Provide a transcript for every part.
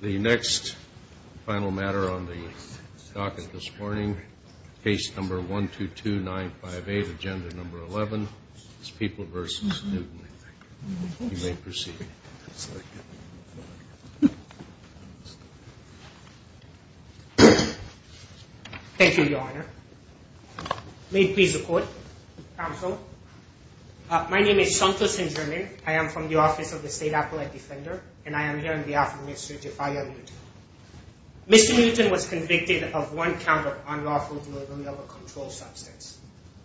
The next final matter on the docket this morning, case number 122958, agenda number 11, is People v. Newton. You may proceed. Thank you, Your Honor. May it please the Court, counsel. My name is Santos Inderman. I am from the Office of the State Appellate Defender, and I am here on behalf of Mr. Jefaya Newton. Mr. Newton was convicted of one count of unlawful delivery of a controlled substance.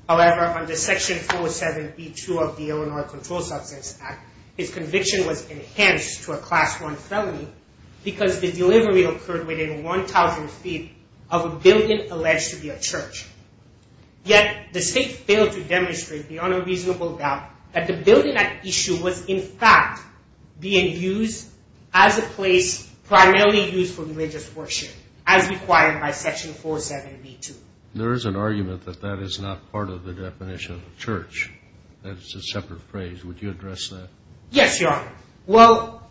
However, under Section 407b2 of the Illinois Controlled Substance Act, his conviction was enhanced to a Class 1 felony because the delivery occurred within 1,000 feet of a building alleged to be a church. Yet, the State failed to demonstrate beyond a reasonable doubt that the building at issue was, in fact, being used as a place primarily used for religious worship, as required by Section 407b2. There is an argument that that is not part of the definition of a church. That is a separate phrase. Would you address that? Yes, Your Honor. Well,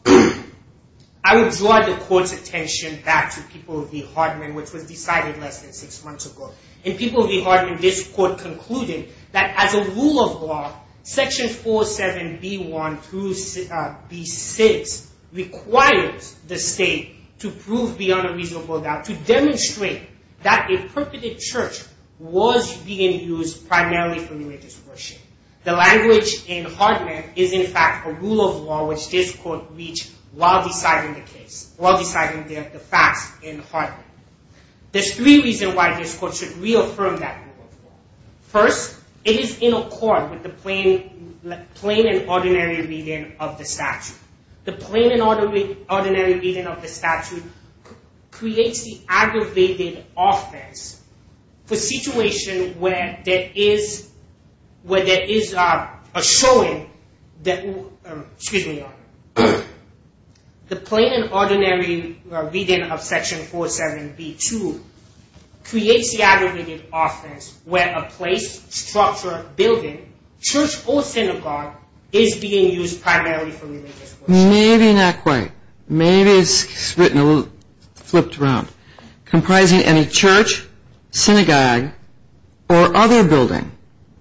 I would draw the Court's attention back to People v. Hardman, which was decided less than six months ago. In People v. Hardman, this Court concluded that as a rule of law, Section 407b1 through b6 requires the State to prove beyond a reasonable doubt, to demonstrate that a perpetrated church was being used primarily for religious worship. The language in Hardman is, in fact, a rule of law which this Court reached while deciding the facts in Hardman. There's three reasons why this Court should reaffirm that rule of law. First, it is in accord with the plain and ordinary reading of the statute. The plain and ordinary reading of Section 407b2 creates the aggravated offense where a place, structure, building, church or synagogue is being used primarily for religious worship. Maybe not quite. Maybe it's written a little flipped around. Comprising any church, synagogue, or other building,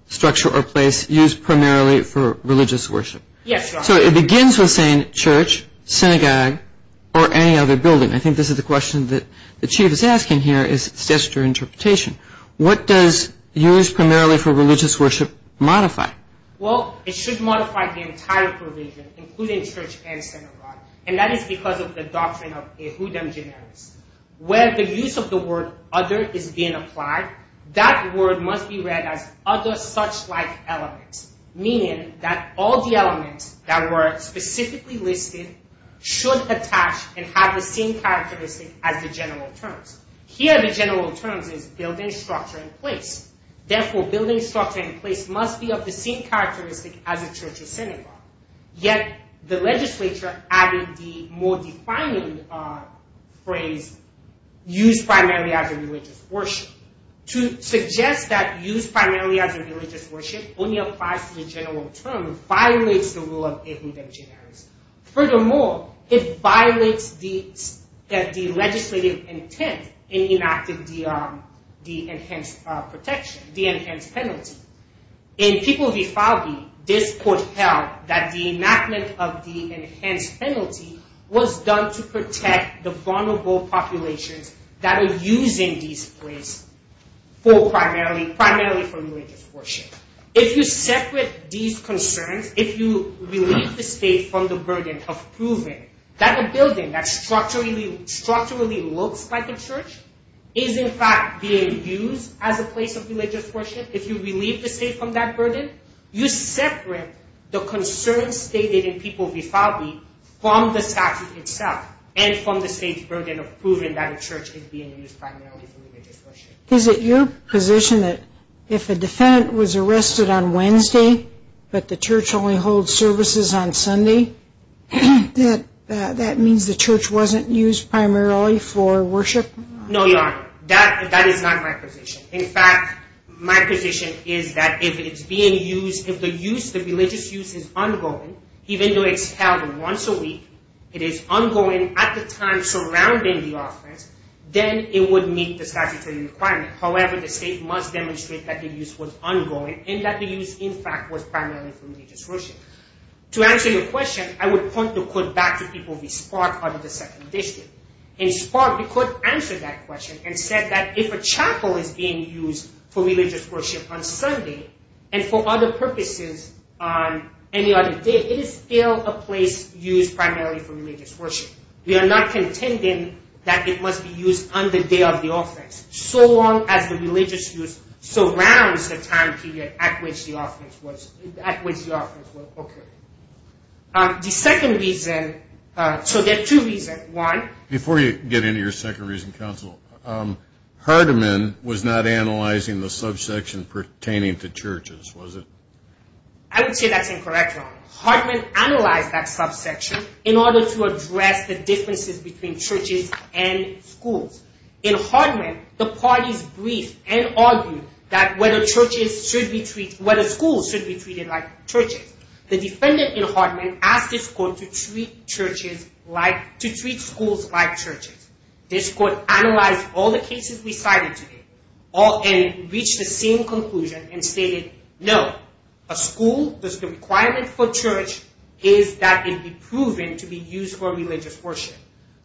structure, or place used primarily for religious worship. Yes, Your Honor. So it begins with saying church, synagogue, or any other building. I think this is the question that the Chief is asking here is it's just your interpretation. What does used primarily for religious worship modify? Well, it should modify the entire provision, including church and synagogue, and that is because of the doctrine of Ehudem Generis. Where the use of the word other is being applied, that word must be read as other such-like elements, meaning that all the elements that were specifically listed should attach and have the same characteristic as the general terms. Here, the general terms is building, structure, and place. Therefore, building, structure, and place must be of the same characteristic as a church or synagogue. Yet, the legislature added the more defining phrase used primarily as a religious worship. To suggest that used primarily as a religious worship only applies to the general term violates the rule of Ehudem Generis. Furthermore, it violates the legislative intent in enacting the enhanced penalty. In People v. Falbee, this court held that the enactment of the enhanced penalty was done to protect the vulnerable populations that are using these places primarily for religious worship. If you separate these concerns, if you relieve the state from the burden of proving that a building that structurally looks like a church is in fact being used as a place of religious worship, if you relieve the state from that burden, you separate the concerns stated in People v. Falbee from the statute itself and from the state's burden of proving that a church is being used primarily for religious worship. Is it your position that if a defendant was arrested on Wednesday, but the church only holds services on Sunday, that means the church wasn't used primarily for worship? No, Your Honor. That is not my position. In fact, my position is that if the religious use is ongoing, even though it's held once a week, it is ongoing at the time surrounding the offense, then it would meet the statutory requirement. However, the state must demonstrate that the use was ongoing and that the use, in fact, was primarily for religious worship. To answer your question, I would point the court back to People v. Spark out of the Second District. In Spark, the court answered that question and said that if a chapel is being used for religious worship on Sunday and for other purposes on any other day, it is still a place used primarily for religious worship. We are not contending that it must be used on the day of the offense, so long as the religious use surrounds the time period at which the offense will occur. Before you get into your second reason, counsel, Hardeman was not analyzing the subsection pertaining to churches, was it? I would say that's incorrect, Your Honor. Hardeman analyzed that subsection in order to address the differences between churches and schools. In Hardeman, the parties briefed and argued that whether schools should be treated like churches. The defendant in Hardeman asked this court to treat schools like churches. This court analyzed all the cases we cited today and reached the same conclusion and stated, no, a school, the requirement for church is that it be proven to be used for religious worship.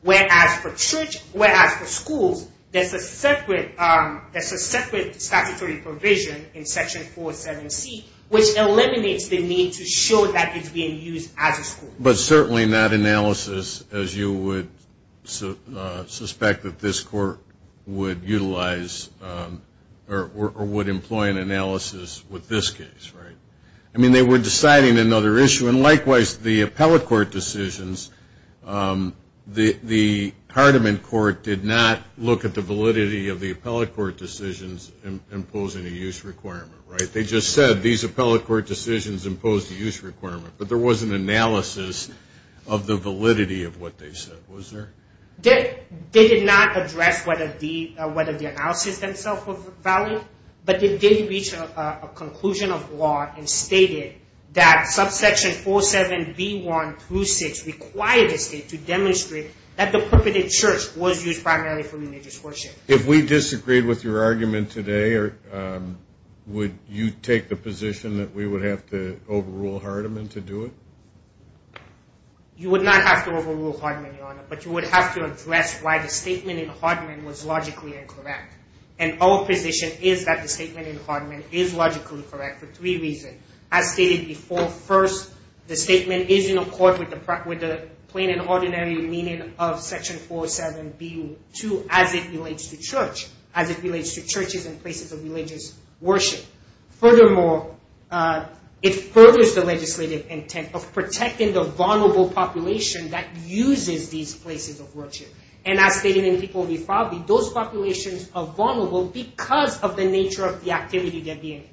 Whereas for schools, there's a separate statutory provision in Section 47C which eliminates the need to show that it's being used as a school. But certainly not analysis as you would suspect that this court would utilize or would employ an analysis with this case, right? I mean, they were deciding another issue, and likewise, the appellate court decisions, the Hardeman court did not look at the validity of the appellate court decisions imposing a use requirement, right? They just said these appellate court decisions imposed a use requirement, but there was an analysis of the validity of what they said, was there? They did not address whether the analysis themselves were valid, but they did reach a conclusion of law and stated that subsection 47B1 through 6 required the state to demonstrate that the purported church was used primarily for religious worship. If we disagreed with your argument today, would you take the position that we would have to overrule Hardeman to do it? You would not have to overrule Hardeman, Your Honor, but you would have to address why the statement in Hardeman was logically incorrect. And our position is that the statement in Hardeman is logically correct for three reasons. As stated before, first, the statement is in accord with the plain and ordinary meaning of Section 47B2 as it relates to church, as it relates to churches and places of religious worship. Furthermore, it furthers the legislative intent of protecting the vulnerable population that uses these places of worship. And as stated in the People v. Farley, those populations are vulnerable because of the nature of the activity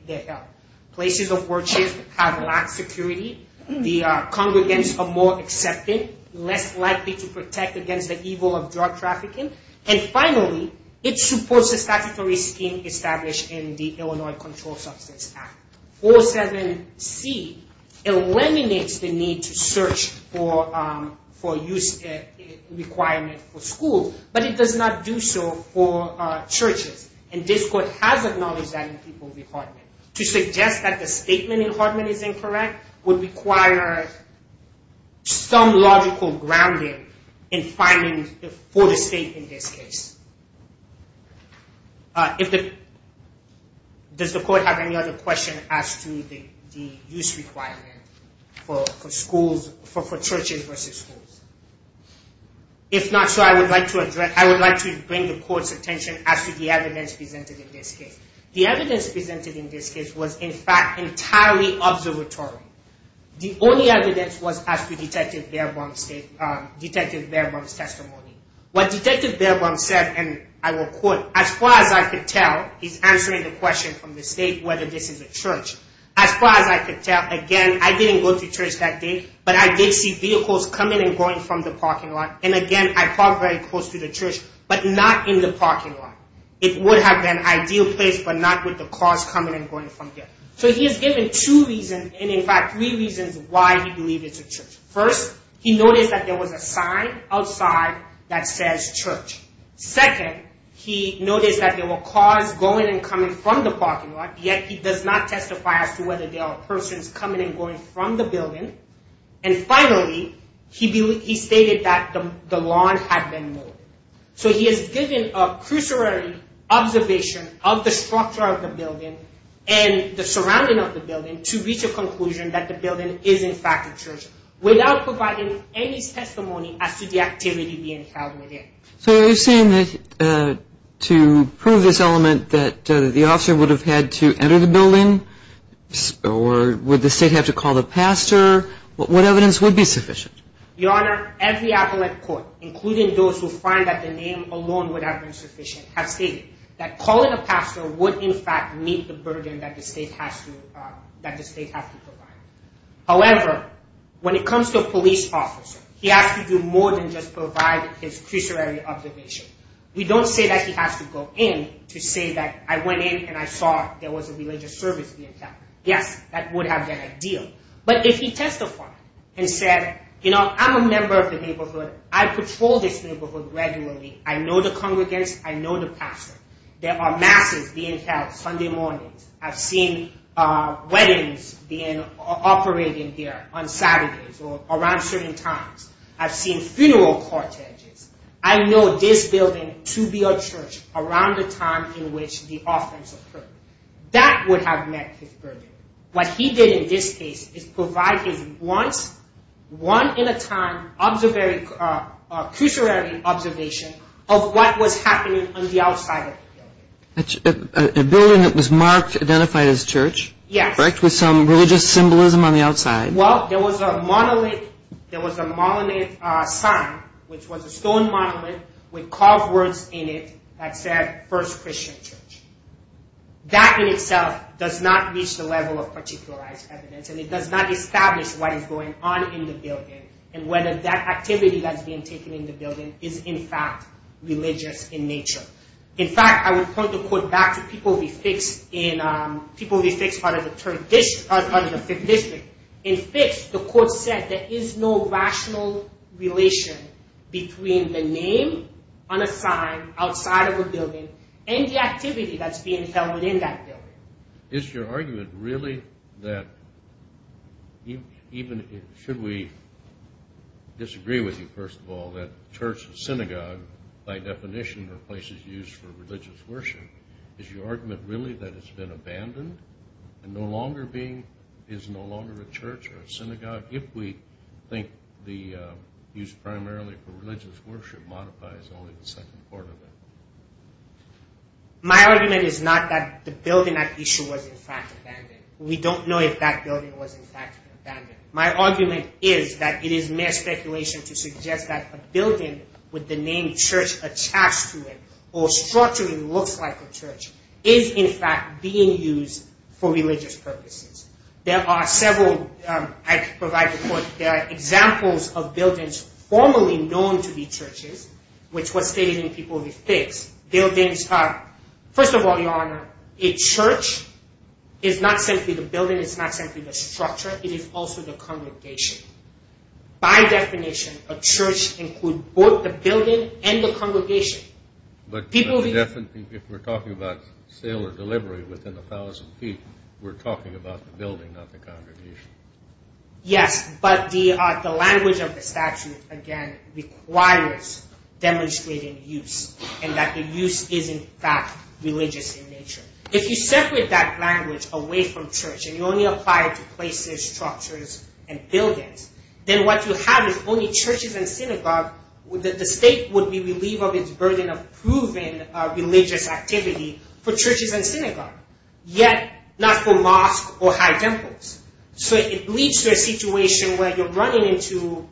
they are held. Places of worship have lacked security. The congregants are more accepting, less likely to protect against the evil of drug trafficking. And finally, it supports the statutory scheme established in the Illinois Control Substance Act. 47C eliminates the need to search for use requirement for schools, but it does not do so for churches. And this Court has acknowledged that in People v. Hardeman. To suggest that the statement in Hardeman is incorrect would require some logical grounding in finding for the state in this case. Does the Court have any other questions as to the use requirement for churches versus schools? If not, I would like to bring the Court's attention as to the evidence presented in this case. The evidence presented in this case was, in fact, entirely observatory. The only evidence was as to Detective Baerbaum's testimony. What Detective Baerbaum said, and I will quote, As far as I could tell, he's answering the question from the state whether this is a church. As far as I could tell, again, I didn't go to church that day, but I did see vehicles coming and going from the parking lot. And again, I parked very close to the church, but not in the parking lot. It would have been an ideal place, but not with the cars coming and going from there. So he has given two reasons, and in fact three reasons, why he believes it's a church. First, he noticed that there was a sign outside that says church. Second, he noticed that there were cars going and coming from the parking lot, yet he does not testify as to whether there are persons coming and going from the building. And finally, he stated that the lawn had been moved. So he has given a cruciary observation of the structure of the building and the surrounding of the building to reach a conclusion that the building is in fact a church without providing any testimony as to the activity being held within. So you're saying that to prove this element that the officer would have had to enter the building, or would the state have to call the pastor, what evidence would be sufficient? Your Honor, every appellate court, including those who find that the name alone would have been sufficient, have stated that calling a pastor would in fact meet the burden that the state has to provide. However, when it comes to a police officer, he has to do more than just provide his cruciary observation. We don't say that he has to go in to say that I went in and I saw there was a religious service being held. Yes, that would have been ideal. But if he testified and said, you know, I'm a member of the neighborhood. I patrol this neighborhood regularly. I know the congregants. I know the pastor. There are masses being held Sunday mornings. I've seen weddings being operated there on Saturdays or around certain times. I've seen funeral corteges. I know this building to be a church around the time in which the offense occurred. That would have met his burden. What he did in this case is provide his once, one-at-a-time cruciary observation of what was happening on the outside of the building. A building that was marked, identified as church. Yes. Correct? With some religious symbolism on the outside. Well, there was a monolith. There was a monolith sign, which was a stone monolith with carved words in it that said First Christian Church. That in itself does not reach the level of particularized evidence, and it does not establish what is going on in the building and whether that activity that's being taken in the building is in fact religious in nature. In fact, I would point the quote back to people we fixed out of the Fifth District. In Fifth, the court said there is no rational relation between the name on a sign outside of a building and the activity that's being held within that building. Is your argument really that even should we disagree with you, first of all, that church and synagogue by definition are places used for religious worship? Is your argument really that it's been abandoned and is no longer a church or a synagogue if we think the use primarily for religious worship modifies only the second part of it? My argument is not that the building at issue was in fact abandoned. We don't know if that building was in fact abandoned. My argument is that it is mere speculation to suggest that a building with the name church attached to it or structurally looks like a church is in fact being used for religious purposes. There are several examples of buildings formerly known to be churches, which was stated in people we fixed. First of all, Your Honor, a church is not simply the building. It's not simply the structure. It is also the congregation. By definition, a church includes both the building and the congregation. But if we're talking about sale or delivery within 1,000 feet, we're talking about the building, not the congregation. Yes, but the language of the statute, again, requires demonstrating use and that the use is in fact religious in nature. If you separate that language away from church and you only apply it to places, structures, and buildings, then what you have is only churches and synagogues. The state would be relieved of its burden of proving religious activity for churches and synagogues, yet not for mosques or high temples. So it leads to a situation where you're running into,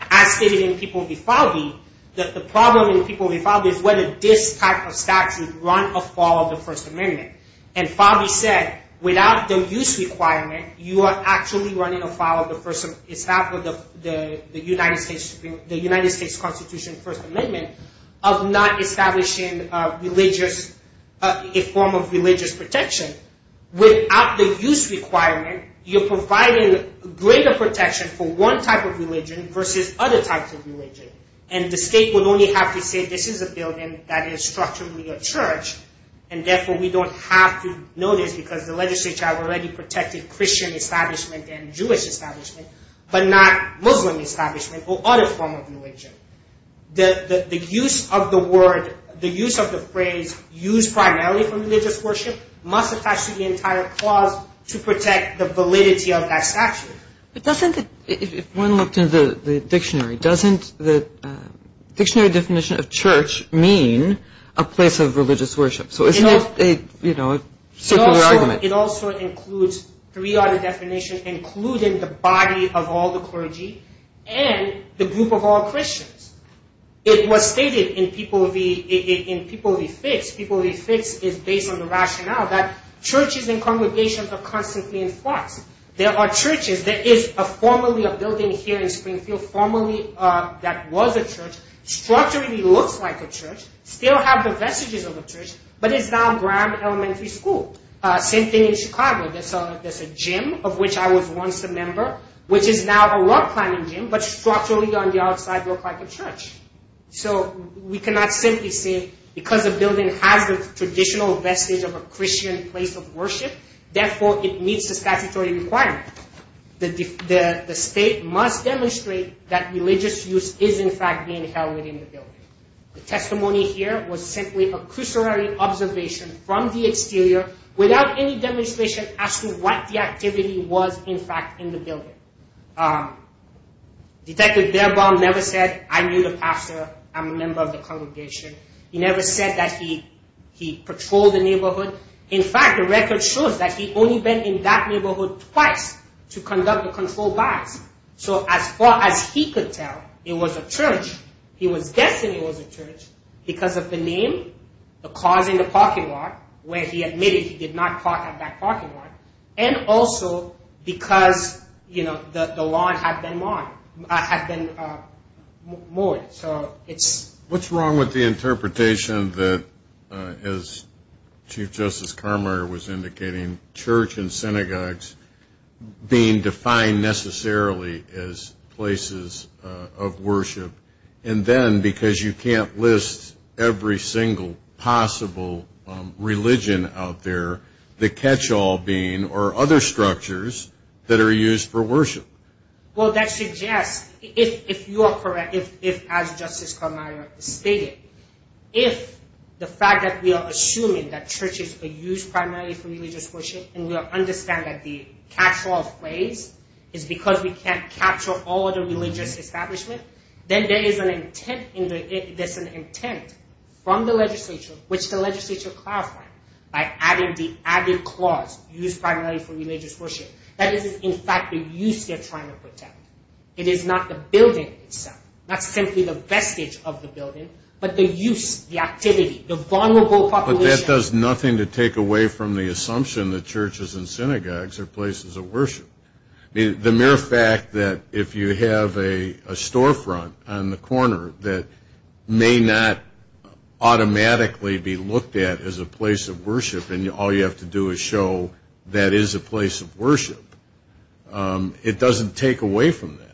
as stated in People v. Fabi, that the problem in People v. Fabi is whether this type of statute run afoul of the First Amendment. And Fabi said, without the use requirement, you are actually running afoul of the United States Constitution First Amendment of not establishing a form of religious protection. Without the use requirement, you're providing greater protection for one type of religion versus other types of religion. And the state would only have to say, this is a building that is structurally a church, and therefore we don't have to know this because the legislature already protected Christian establishment and Jewish establishment, but not Muslim establishment or other form of religion. The use of the word, the use of the phrase, use primarily for religious worship, must attach to the entire clause to protect the validity of that statute. If one looked in the dictionary, doesn't the dictionary definition of church mean a place of religious worship? So it's not a circular argument. It also includes three other definitions, including the body of all the clergy and the group of all Christians. It was stated in People v. Fitz, People v. Fitz is based on the rationale that churches and congregations are constantly in flux. There are churches, there is a formerly a building here in Springfield, formerly that was a church, structurally looks like a church, still have the vestiges of a church, but it's now Graham Elementary School. Same thing in Chicago, there's a gym of which I was once a member, which is now a rock climbing gym, but structurally on the outside looks like a church. So we cannot simply say, because the building has the traditional vestige of a Christian place of worship, therefore it meets the statutory requirement. The state must demonstrate that religious use is in fact being held within the building. The testimony here was simply a cursory observation from the exterior, without any demonstration as to what the activity was in fact in the building. Detective Baerbaum never said, I knew the pastor, I'm a member of the congregation. He never said that he patrolled the neighborhood. In fact, the record shows that he only been in that neighborhood twice to conduct a controlled bias. So as far as he could tell, it was a church. He was guessing it was a church because of the name, the cars in the parking lot, where he admitted he did not park at that parking lot, and also because the lawn had been mowed. What's wrong with the interpretation that, as Chief Justice Carmeier was indicating, church and synagogues being defined necessarily as places of worship, and then because you can't list every single possible religion out there, the catch-all being, or other structures that are used for worship? Well, that suggests, if you are correct, if as Justice Carmeier stated, if the fact that we are assuming that churches are used primarily for religious worship, and we understand that the catch-all phrase is because we can't capture all of the religious establishment, then there is an intent from the legislature, which the legislature clarified, by adding the added clause, used primarily for religious worship. That is, in fact, the use they're trying to protect. It is not the building itself, not simply the vestige of the building, but the use, the activity, the vulnerable population. But that does nothing to take away from the assumption that churches and synagogues are places of worship. The mere fact that if you have a storefront on the corner that may not automatically be looked at as a place of worship, and all you have to do is show that is a place of worship, it doesn't take away from that.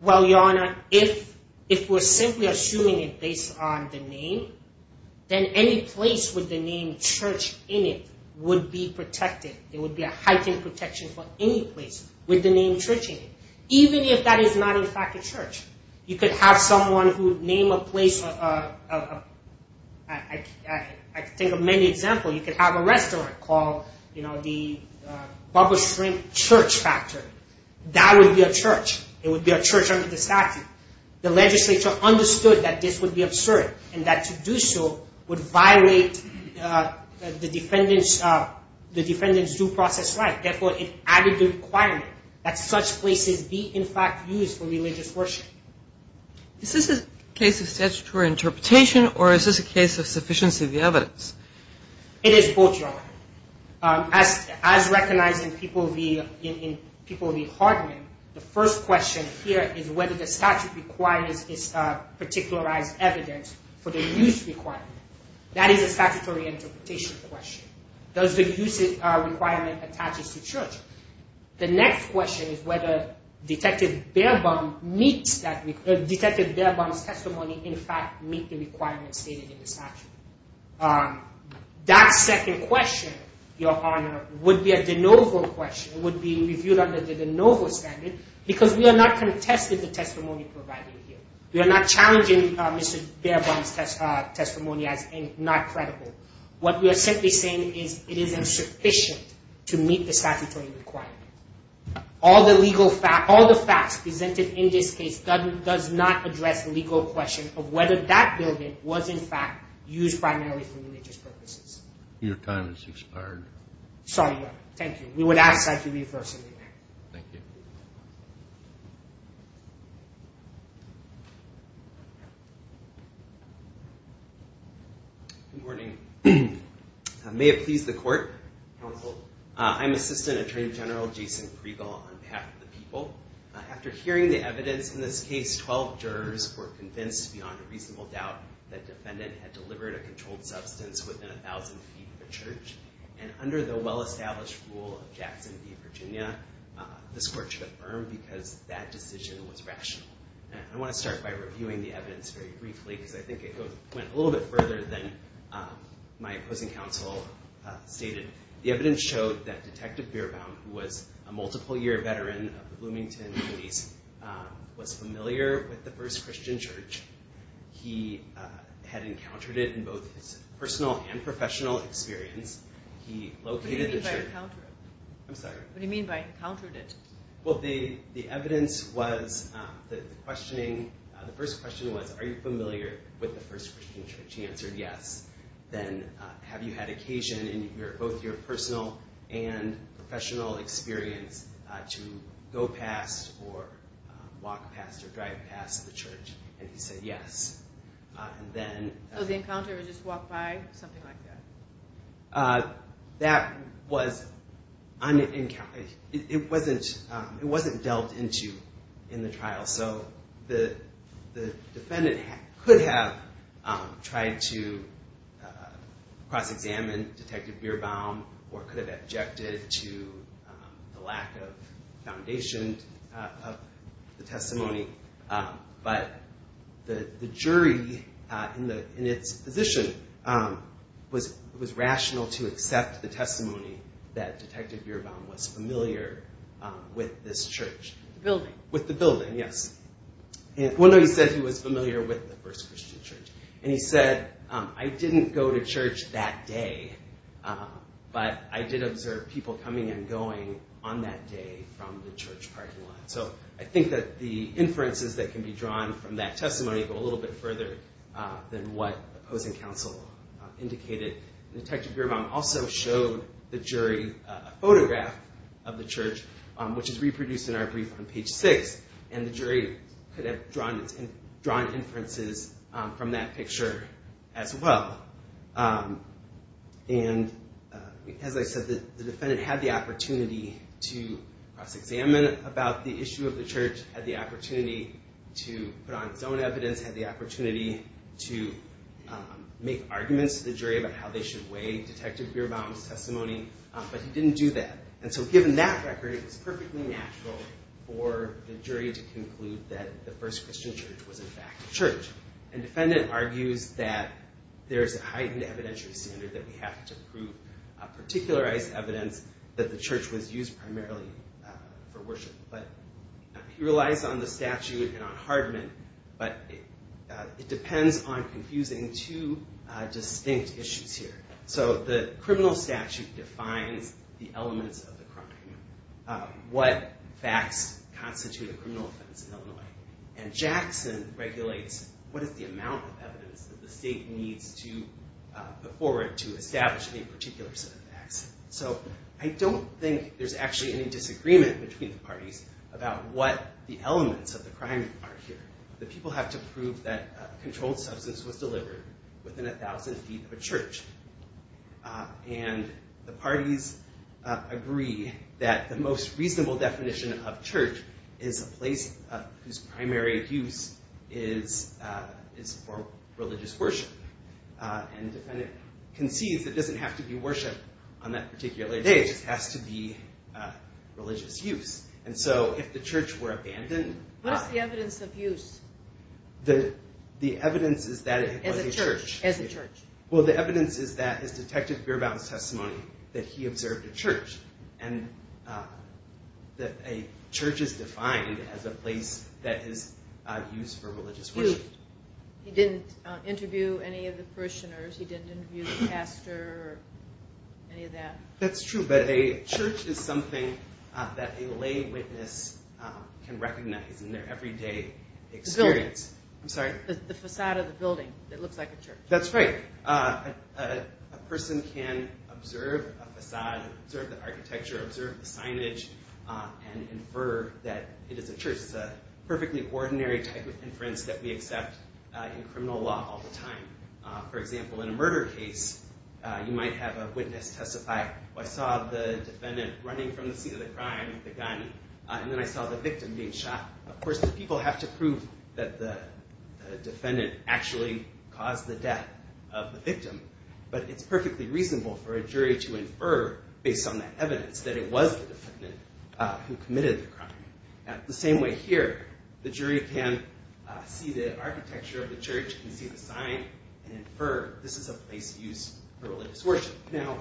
Well, Your Honor, if we're simply assuming it based on the name, then any place with the name church in it would be protected. There would be a heightened protection for any place with the name church in it, even if that is not, in fact, a church. You could have someone who would name a place, I think of many examples. You could have a restaurant called the Bubba Shrimp Church Factory. That would be a church. It would be a church under the statute. The legislature understood that this would be absurd, and that to do so would violate the defendant's due process right. Therefore, it added the requirement that such places be, in fact, used for religious worship. Is this a case of statutory interpretation, or is this a case of sufficiency of the evidence? It is both, Your Honor. As recognized in People v. Hardman, the first question here is whether the statute requires this particularized evidence for the use requirement. That is a statutory interpretation question. Does the use requirement attach to church? The next question is whether Detective Baerbaum's testimony, in fact, meets the requirements stated in the statute. That second question, Your Honor, would be a de novo question. It would be reviewed under the de novo standard, because we are not contesting the testimony provided here. We are not challenging Mr. Baerbaum's testimony as not credible. What we are simply saying is it is insufficient to meet the statutory requirement. All the facts presented in this case does not address the legal question of whether that building was, in fact, used primarily for religious purposes. Your time has expired. Sorry, Your Honor. Thank you. We would ask that you reverse the amendment. Thank you. Good morning. May it please the Court. Counsel. I'm Assistant Attorney General Jason Priegel on behalf of the people. After hearing the evidence in this case, 12 jurors were convinced beyond a reasonable doubt that the defendant had delivered a controlled substance within 1,000 feet of a church. And under the well-established rule of Jackson v. Virginia, this Court should affirm because that decision was rational. I want to start by reviewing the evidence very briefly, because I think it went a little bit further than my opposing counsel stated. The evidence showed that Detective Baerbaum, who was a multiple-year veteran of the Bloomington Police, was familiar with the First Christian Church. He had encountered it in both his personal and professional experience. He located the church. What do you mean by encountered it? I'm sorry? What do you mean by encountered it? Well, the evidence was that the questioning, the first question was, are you familiar with the First Christian Church? He answered yes. Then, have you had occasion in both your personal and professional experience to go past or walk past or drive past the church? And he said yes. So the encounter was just walk by, something like that? That was unencountered. It wasn't dealt into in the trial. So the defendant could have tried to cross-examine Detective Baerbaum or could have objected to the lack of foundation of the testimony. But the jury, in its position, was rational to accept the testimony that Detective Baerbaum was familiar with this church. The building. With the building, yes. Well, no, he said he was familiar with the First Christian Church. And he said, I didn't go to church that day, but I did observe people coming and going on that day from the church parking lot. So I think that the inferences that can be drawn from that testimony go a little bit further than what opposing counsel indicated. Detective Baerbaum also showed the jury a photograph of the church, which is reproduced in our brief on page six. And the jury could have drawn inferences from that picture as well. And as I said, the defendant had the opportunity to cross-examine about the issue of the church, had the opportunity to put on his own evidence, had the opportunity to make arguments to the jury about how they should weigh Detective Baerbaum's testimony. But he didn't do that. And so given that record, it was perfectly natural for the jury to conclude that the First Christian Church was, in fact, a church. And the defendant argues that there's a heightened evidentiary standard that we have to prove, particularized evidence that the church was used primarily for worship. But he relies on the statute and on Hardman, but it depends on confusing two distinct issues here. So the criminal statute defines the elements of the crime, what facts constitute a criminal offense in Illinois. And Jackson regulates what is the amount of evidence that the state needs to put forward to establish any particular set of facts. So I don't think there's actually any disagreement between the parties about what the elements of the crime are here. The people have to prove that a controlled substance was delivered within 1,000 feet of a church. And the parties agree that the most reasonable definition of church is a place whose primary use is for religious worship. And the defendant concedes that it doesn't have to be worship on that particular day. It just has to be religious use. And so if the church were abandoned. What is the evidence of use? The evidence is that it was a church. As a church. Well, the evidence is that his detective bare about his testimony that he observed a church. And that a church is defined as a place that is used for religious worship. He didn't interview any of the parishioners. He didn't interview the pastor or any of that. That's true. But a church is something that a lay witness can recognize in their everyday experience. The building. I'm sorry? The facade of the building that looks like a church. That's right. A person can observe a facade, observe the architecture, observe the signage, and infer that it is a church. It's a perfectly ordinary type of inference that we accept in criminal law all the time. For example, in a murder case, you might have a witness testify, I saw the defendant running from the scene of the crime with a gun. And then I saw the victim being shot. Of course, the people have to prove that the defendant actually caused the death of the victim. But it's perfectly reasonable for a jury to infer, based on that evidence, that it was the defendant who committed the crime. The same way here, the jury can see the architecture of the church, can see the sign, and infer this is a place used for religious worship. Now,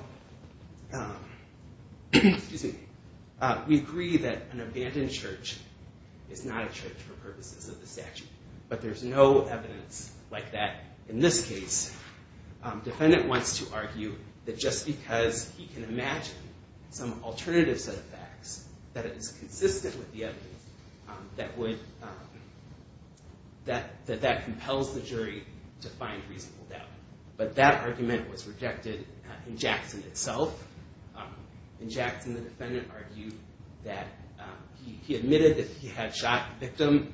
we agree that an abandoned church is not a church for purposes of the statute. But there's no evidence like that in this case. The defendant wants to argue that just because he can imagine some alternative set of facts, that it is consistent with the evidence, that that compels the jury to find reasonable doubt. But that argument was rejected in Jackson itself. In Jackson, the defendant argued that he admitted that he had shot the victim,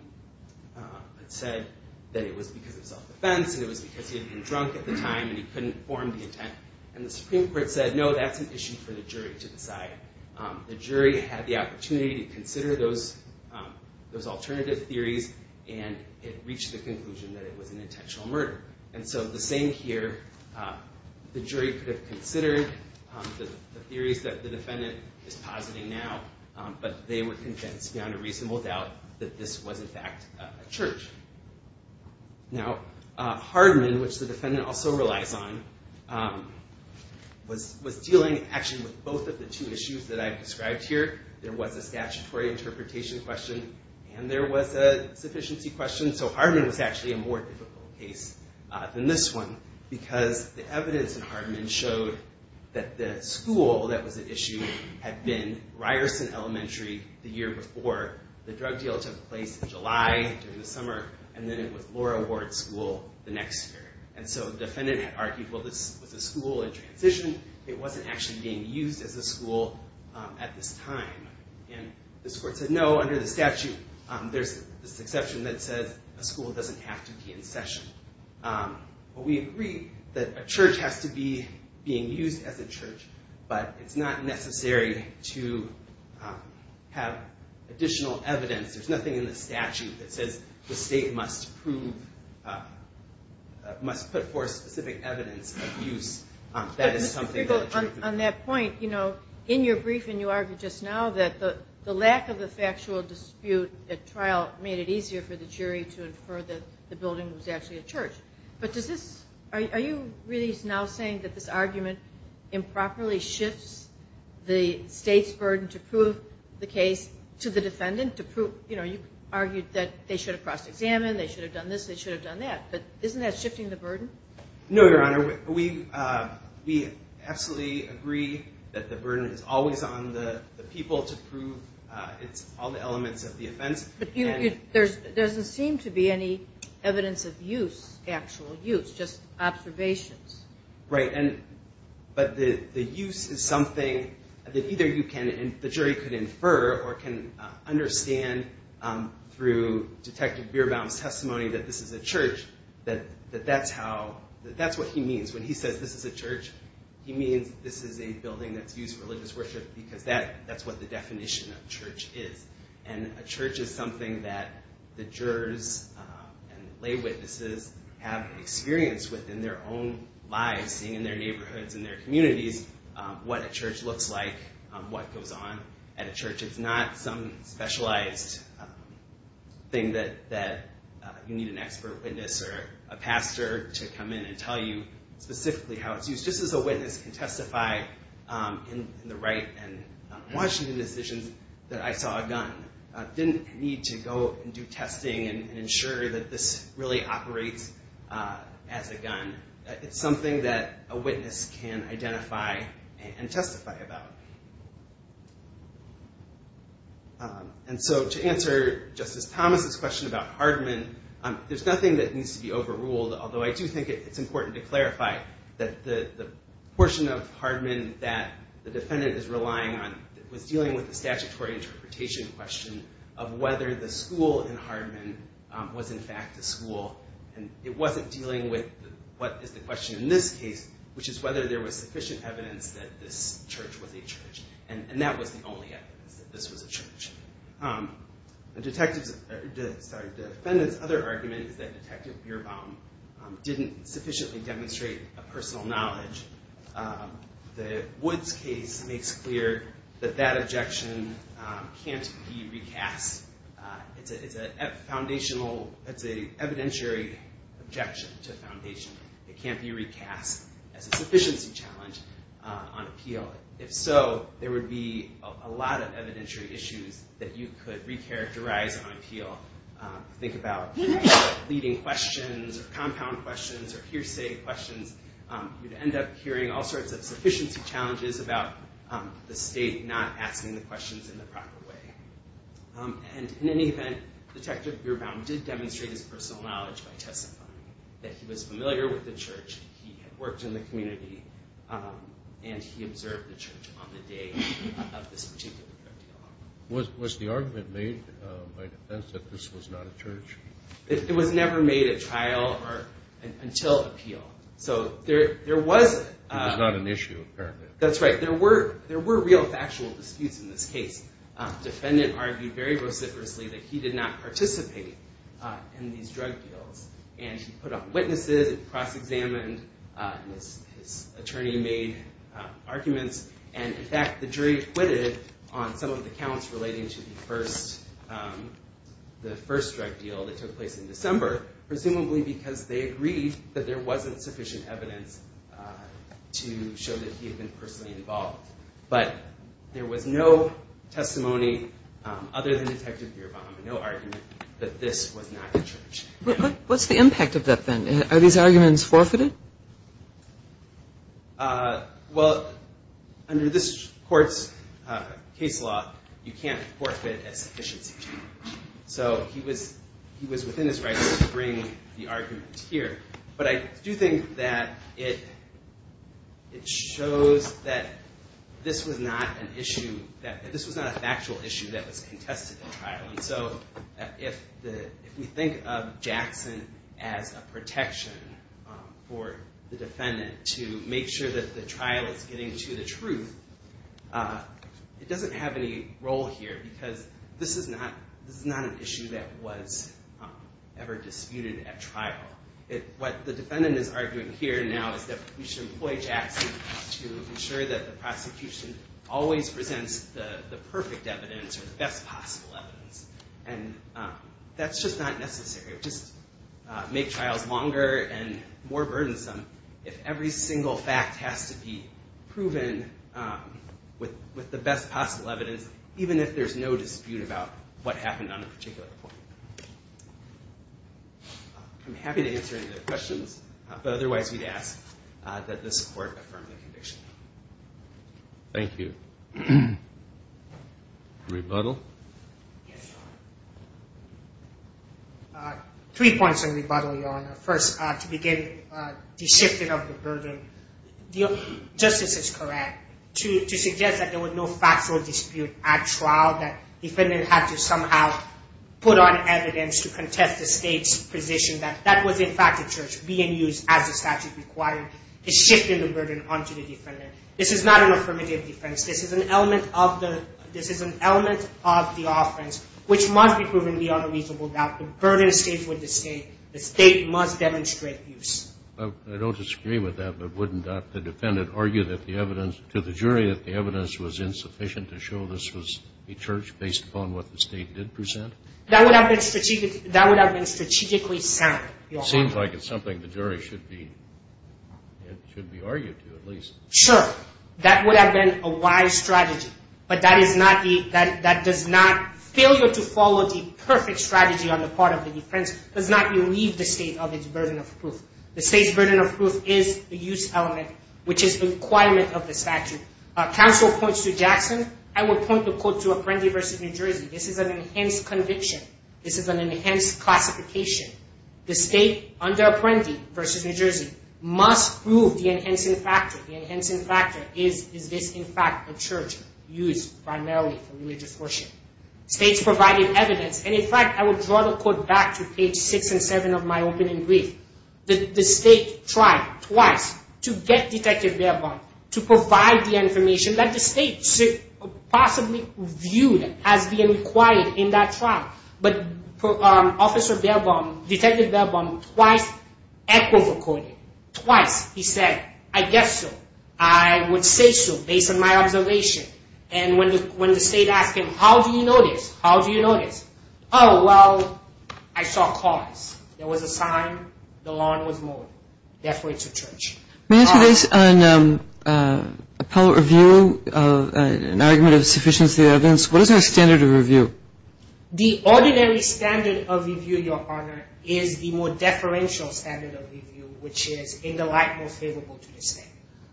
but said that it was because of self-defense, and it was because he had been drunk at the time, and he couldn't form the intent. And the Supreme Court said, no, that's an issue for the jury to decide. The jury had the opportunity to consider those alternative theories, and it reached the conclusion that it was an intentional murder. And so the same here, the jury could have considered the theories that the defendant is positing now, but they were convinced beyond a reasonable doubt that this was, in fact, a church. Now, Hardman, which the defendant also relies on, was dealing actually with both of the two issues that I've described here. There was a statutory interpretation question, and there was a sufficiency question. So Hardman was actually a more difficult case than this one, because the evidence in Hardman showed that the school that was at issue had been Ryerson Elementary the year before. The drug deal took place in July, during the summer, and then it was Laura Ward School the next year. And so the defendant had argued, well, this was a school in transition. It wasn't actually being used as a school at this time. And this court said, no, under the statute, there's this exception that says a school doesn't have to be in session. But we agree that a church has to be being used as a church, but it's not necessary to have additional evidence. There's nothing in the statute that says the state must prove, must put forth specific evidence of use. On that point, in your briefing, you argued just now that the lack of a factual dispute at trial made it easier for the jury to infer that the building was actually a church. But are you really now saying that this argument improperly shifts the state's burden to prove the case to the defendant? You argued that they should have cross-examined, they should have done this, they should have done that. No, Your Honor. We absolutely agree that the burden is always on the people to prove all the elements of the offense. But there doesn't seem to be any evidence of use, actual use, just observations. Right. But the use is something that either the jury could infer or can understand through Detective Bierbaum's testimony that this is a church, that that's what he means. When he says this is a church, he means this is a building that's used for religious worship because that's what the definition of church is. And a church is something that the jurors and lay witnesses have experienced within their own lives, seeing in their neighborhoods and their communities, what a church looks like, what goes on at a church. It's not some specialized thing that you need an expert witness or a pastor to come in and tell you specifically how it's used. Just as a witness can testify in the right and Washington decisions that I saw a gun, didn't need to go and do testing and ensure that this really operates as a gun. It's something that a witness can identify and testify about. And so to answer Justice Thomas's question about Hardman, there's nothing that needs to be overruled. Although I do think it's important to clarify that the portion of Hardman that the defendant is relying on was dealing with the statutory interpretation question of whether the school in Hardman was in fact a school. It wasn't dealing with what is the question in this case, which is whether there was sufficient evidence that this church was a church. And that was the only evidence that this was a church. The defendant's other argument is that Detective Beerbaum didn't sufficiently demonstrate a personal knowledge. The Woods case makes clear that that objection can't be recast. It's an evidentiary objection to foundation. It can't be recast as a sufficiency challenge on appeal. If so, there would be a lot of evidentiary issues that you could recharacterize on appeal. Think about leading questions or compound questions or hearsay questions. You'd end up hearing all sorts of sufficiency challenges about the state not asking the questions in the proper way. And in any event, Detective Beerbaum did demonstrate his personal knowledge by testifying that he was familiar with the church. He had worked in the community, and he observed the church on the day of this particular trial. Was the argument made by defense that this was not a church? It was never made a trial until appeal. So there was... It was not an issue, apparently. That's right. There were real factual disputes in this case. Defendant argued very vociferously that he did not participate in these drug deals. And he put up witnesses. It was cross-examined. His attorney made arguments. And, in fact, the jury acquitted on some of the counts relating to the first drug deal that took place in December, presumably because they agreed that there wasn't sufficient evidence to show that he had been personally involved. But there was no testimony other than Detective Beerbaum, no argument, that this was not a church. What's the impact of that, then? Are these arguments forfeited? Well, under this court's case law, you can't forfeit a sufficiency charge. So he was within his rights to bring the argument here. But I do think that it shows that this was not an issue, that this was not a factual issue that was contested in trial. And so if we think of Jackson as a protection for the defendant to make sure that the trial is getting to the truth, it doesn't have any role here because this is not an issue that was ever disputed at trial. What the defendant is arguing here now is that we should employ Jackson to ensure that the prosecution always presents the perfect evidence or the best possible evidence. And that's just not necessary. Just make trials longer and more burdensome if every single fact has to be proven with the best possible evidence, even if there's no dispute about what happened on a particular point. I'm happy to answer any other questions, but otherwise we'd ask that this court affirm the conviction. Thank you. Rebuttal? Yes, Your Honor. Three points of rebuttal, Your Honor. First, to begin, the shifting of the burden. Justice is correct to suggest that there was no factual dispute at trial, that the defendant had to somehow put on evidence to contest the State's position that that was in fact a charge being used as the statute required, is shifting the burden onto the defendant. This is not an affirmative defense. This is an element of the offense which must be proven beyond a reasonable doubt. The burden stays with the State. The State must demonstrate abuse. I don't disagree with that, but wouldn't the defendant argue to the jury that the evidence was insufficient to show this was a charge based upon what the State did present? That would have been strategically sound, Your Honor. Sure, that would have been a wise strategy, but that does not, failure to follow the perfect strategy on the part of the defense does not relieve the State of its burden of proof. The State's burden of proof is a use element which is a requirement of the statute. Counsel points to Jackson. I would point the court to Apprendi v. New Jersey. This is an enhanced conviction. This is an enhanced classification. The State under Apprendi v. New Jersey must prove the enhancing factor. The enhancing factor is, is this in fact a charge used primarily for religious worship? States provided evidence, and in fact, I would draw the court back to page 6 and 7 of my opening brief. The State tried twice to get Detective Baerbaum to provide the information that the State possibly viewed as being required in that trial. But Officer Baerbaum, Detective Baerbaum, twice echoed the court. Twice he said, I guess so. I would say so based on my observation. And when the State asked him, how do you know this? How do you know this? Oh, well, I saw cause. There was a sign. The lawn was mowed. Therefore, it's a charge. May I ask you based on appellate review of an argument of sufficiency of evidence, what is the standard of review? The ordinary standard of review, Your Honor, is the more deferential standard of review, which is in the light most favorable to the State.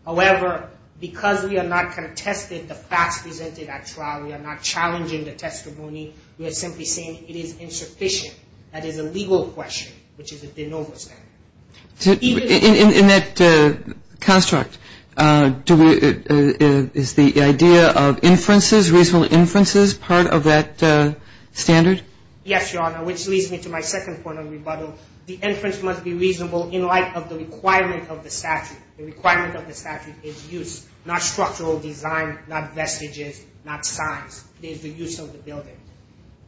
However, because we are not contesting the facts presented at trial, we are not challenging the testimony. We are simply saying it is insufficient. That is a legal question, which is a de novo standard. In that construct, is the idea of inferences, reasonable inferences, part of that standard? Yes, Your Honor, which leads me to my second point of rebuttal. The inference must be reasonable in light of the requirement of the statute. The requirement of the statute is use, not structural design, not vestiges, not signs. It is the use of the building.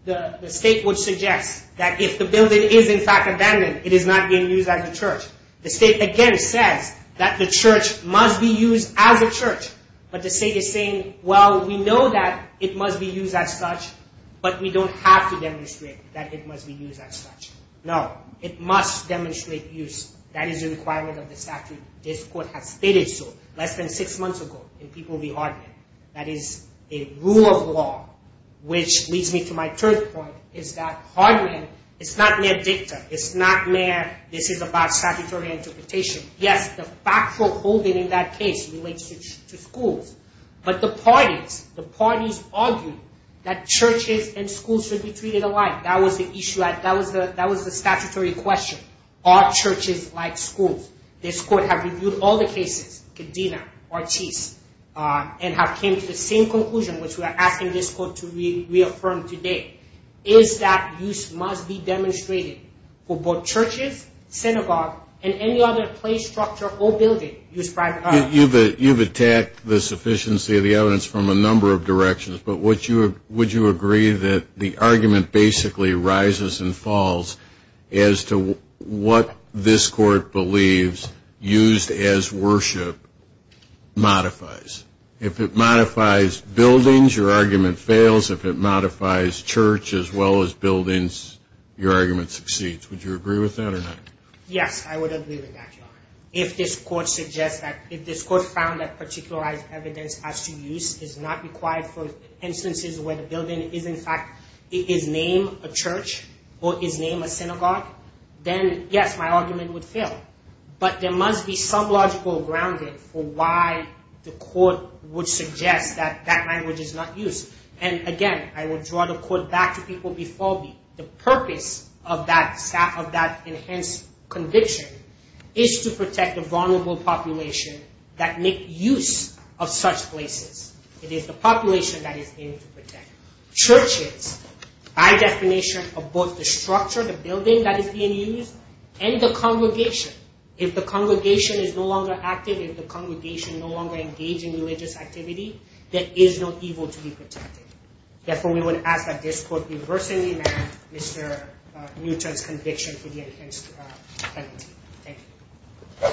The State would suggest that if the building is in fact abandoned, it is not being used as a church. The State again says that the church must be used as a church. But the State is saying, well, we know that it must be used as such, but we don't have to demonstrate that it must be used as such. No, it must demonstrate use. That is a requirement of the statute. This Court has stated so less than six months ago in People v. Hardman. That is a rule of law, which leads me to my third point, is that Hardman is not mere dicta. It's not mere, this is about statutory interpretation. Yes, the factual holding in that case relates to schools. But the parties, the parties argued that churches and schools should be treated alike. That was the issue. That was the statutory question. Are churches like schools? This Court has reviewed all the cases, Cadena, Ortiz, and have came to the same conclusion, which we are asking this Court to reaffirm today, is that use must be demonstrated for both churches, synagogue, and any other place, structure, or building used privately. You've attacked the sufficiency of the evidence from a number of directions. But would you agree that the argument basically rises and falls as to what this Court believes used as worship modifies? If it modifies buildings, your argument fails. If it modifies church as well as buildings, your argument succeeds. Would you agree with that or not? Yes, I would agree with that, Your Honor. If this Court found that particularized evidence as to use is not required for instances where the building is, in fact, is named a church or is named a synagogue, then yes, my argument would fail. But there must be some logical grounding for why the Court would suggest that that language is not used. And again, I would draw the Court back to people before me. The purpose of that enhanced conviction is to protect the vulnerable population that make use of such places. It is the population that is aimed to protect. Churches, by definition, are both the structure, the building that is being used, and the congregation. If the congregation is no longer active, if the congregation no longer engage in religious activity, there is no evil to be protected. Therefore, we would ask that this Court be versed in Mr. Newton's conviction for the enhanced penalty. Thank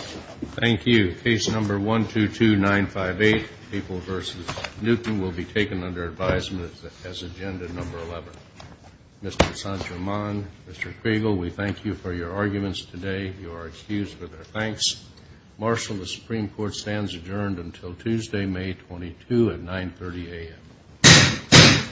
you. Thank you. Case number 122958, People v. Newton, will be taken under advisement as agenda number 11. Mr. Sanchiman, Mr. Kregel, we thank you for your arguments today. You are excused for their thanks. Marshal, the Supreme Court stands adjourned until Tuesday, May 22 at 930 a.m.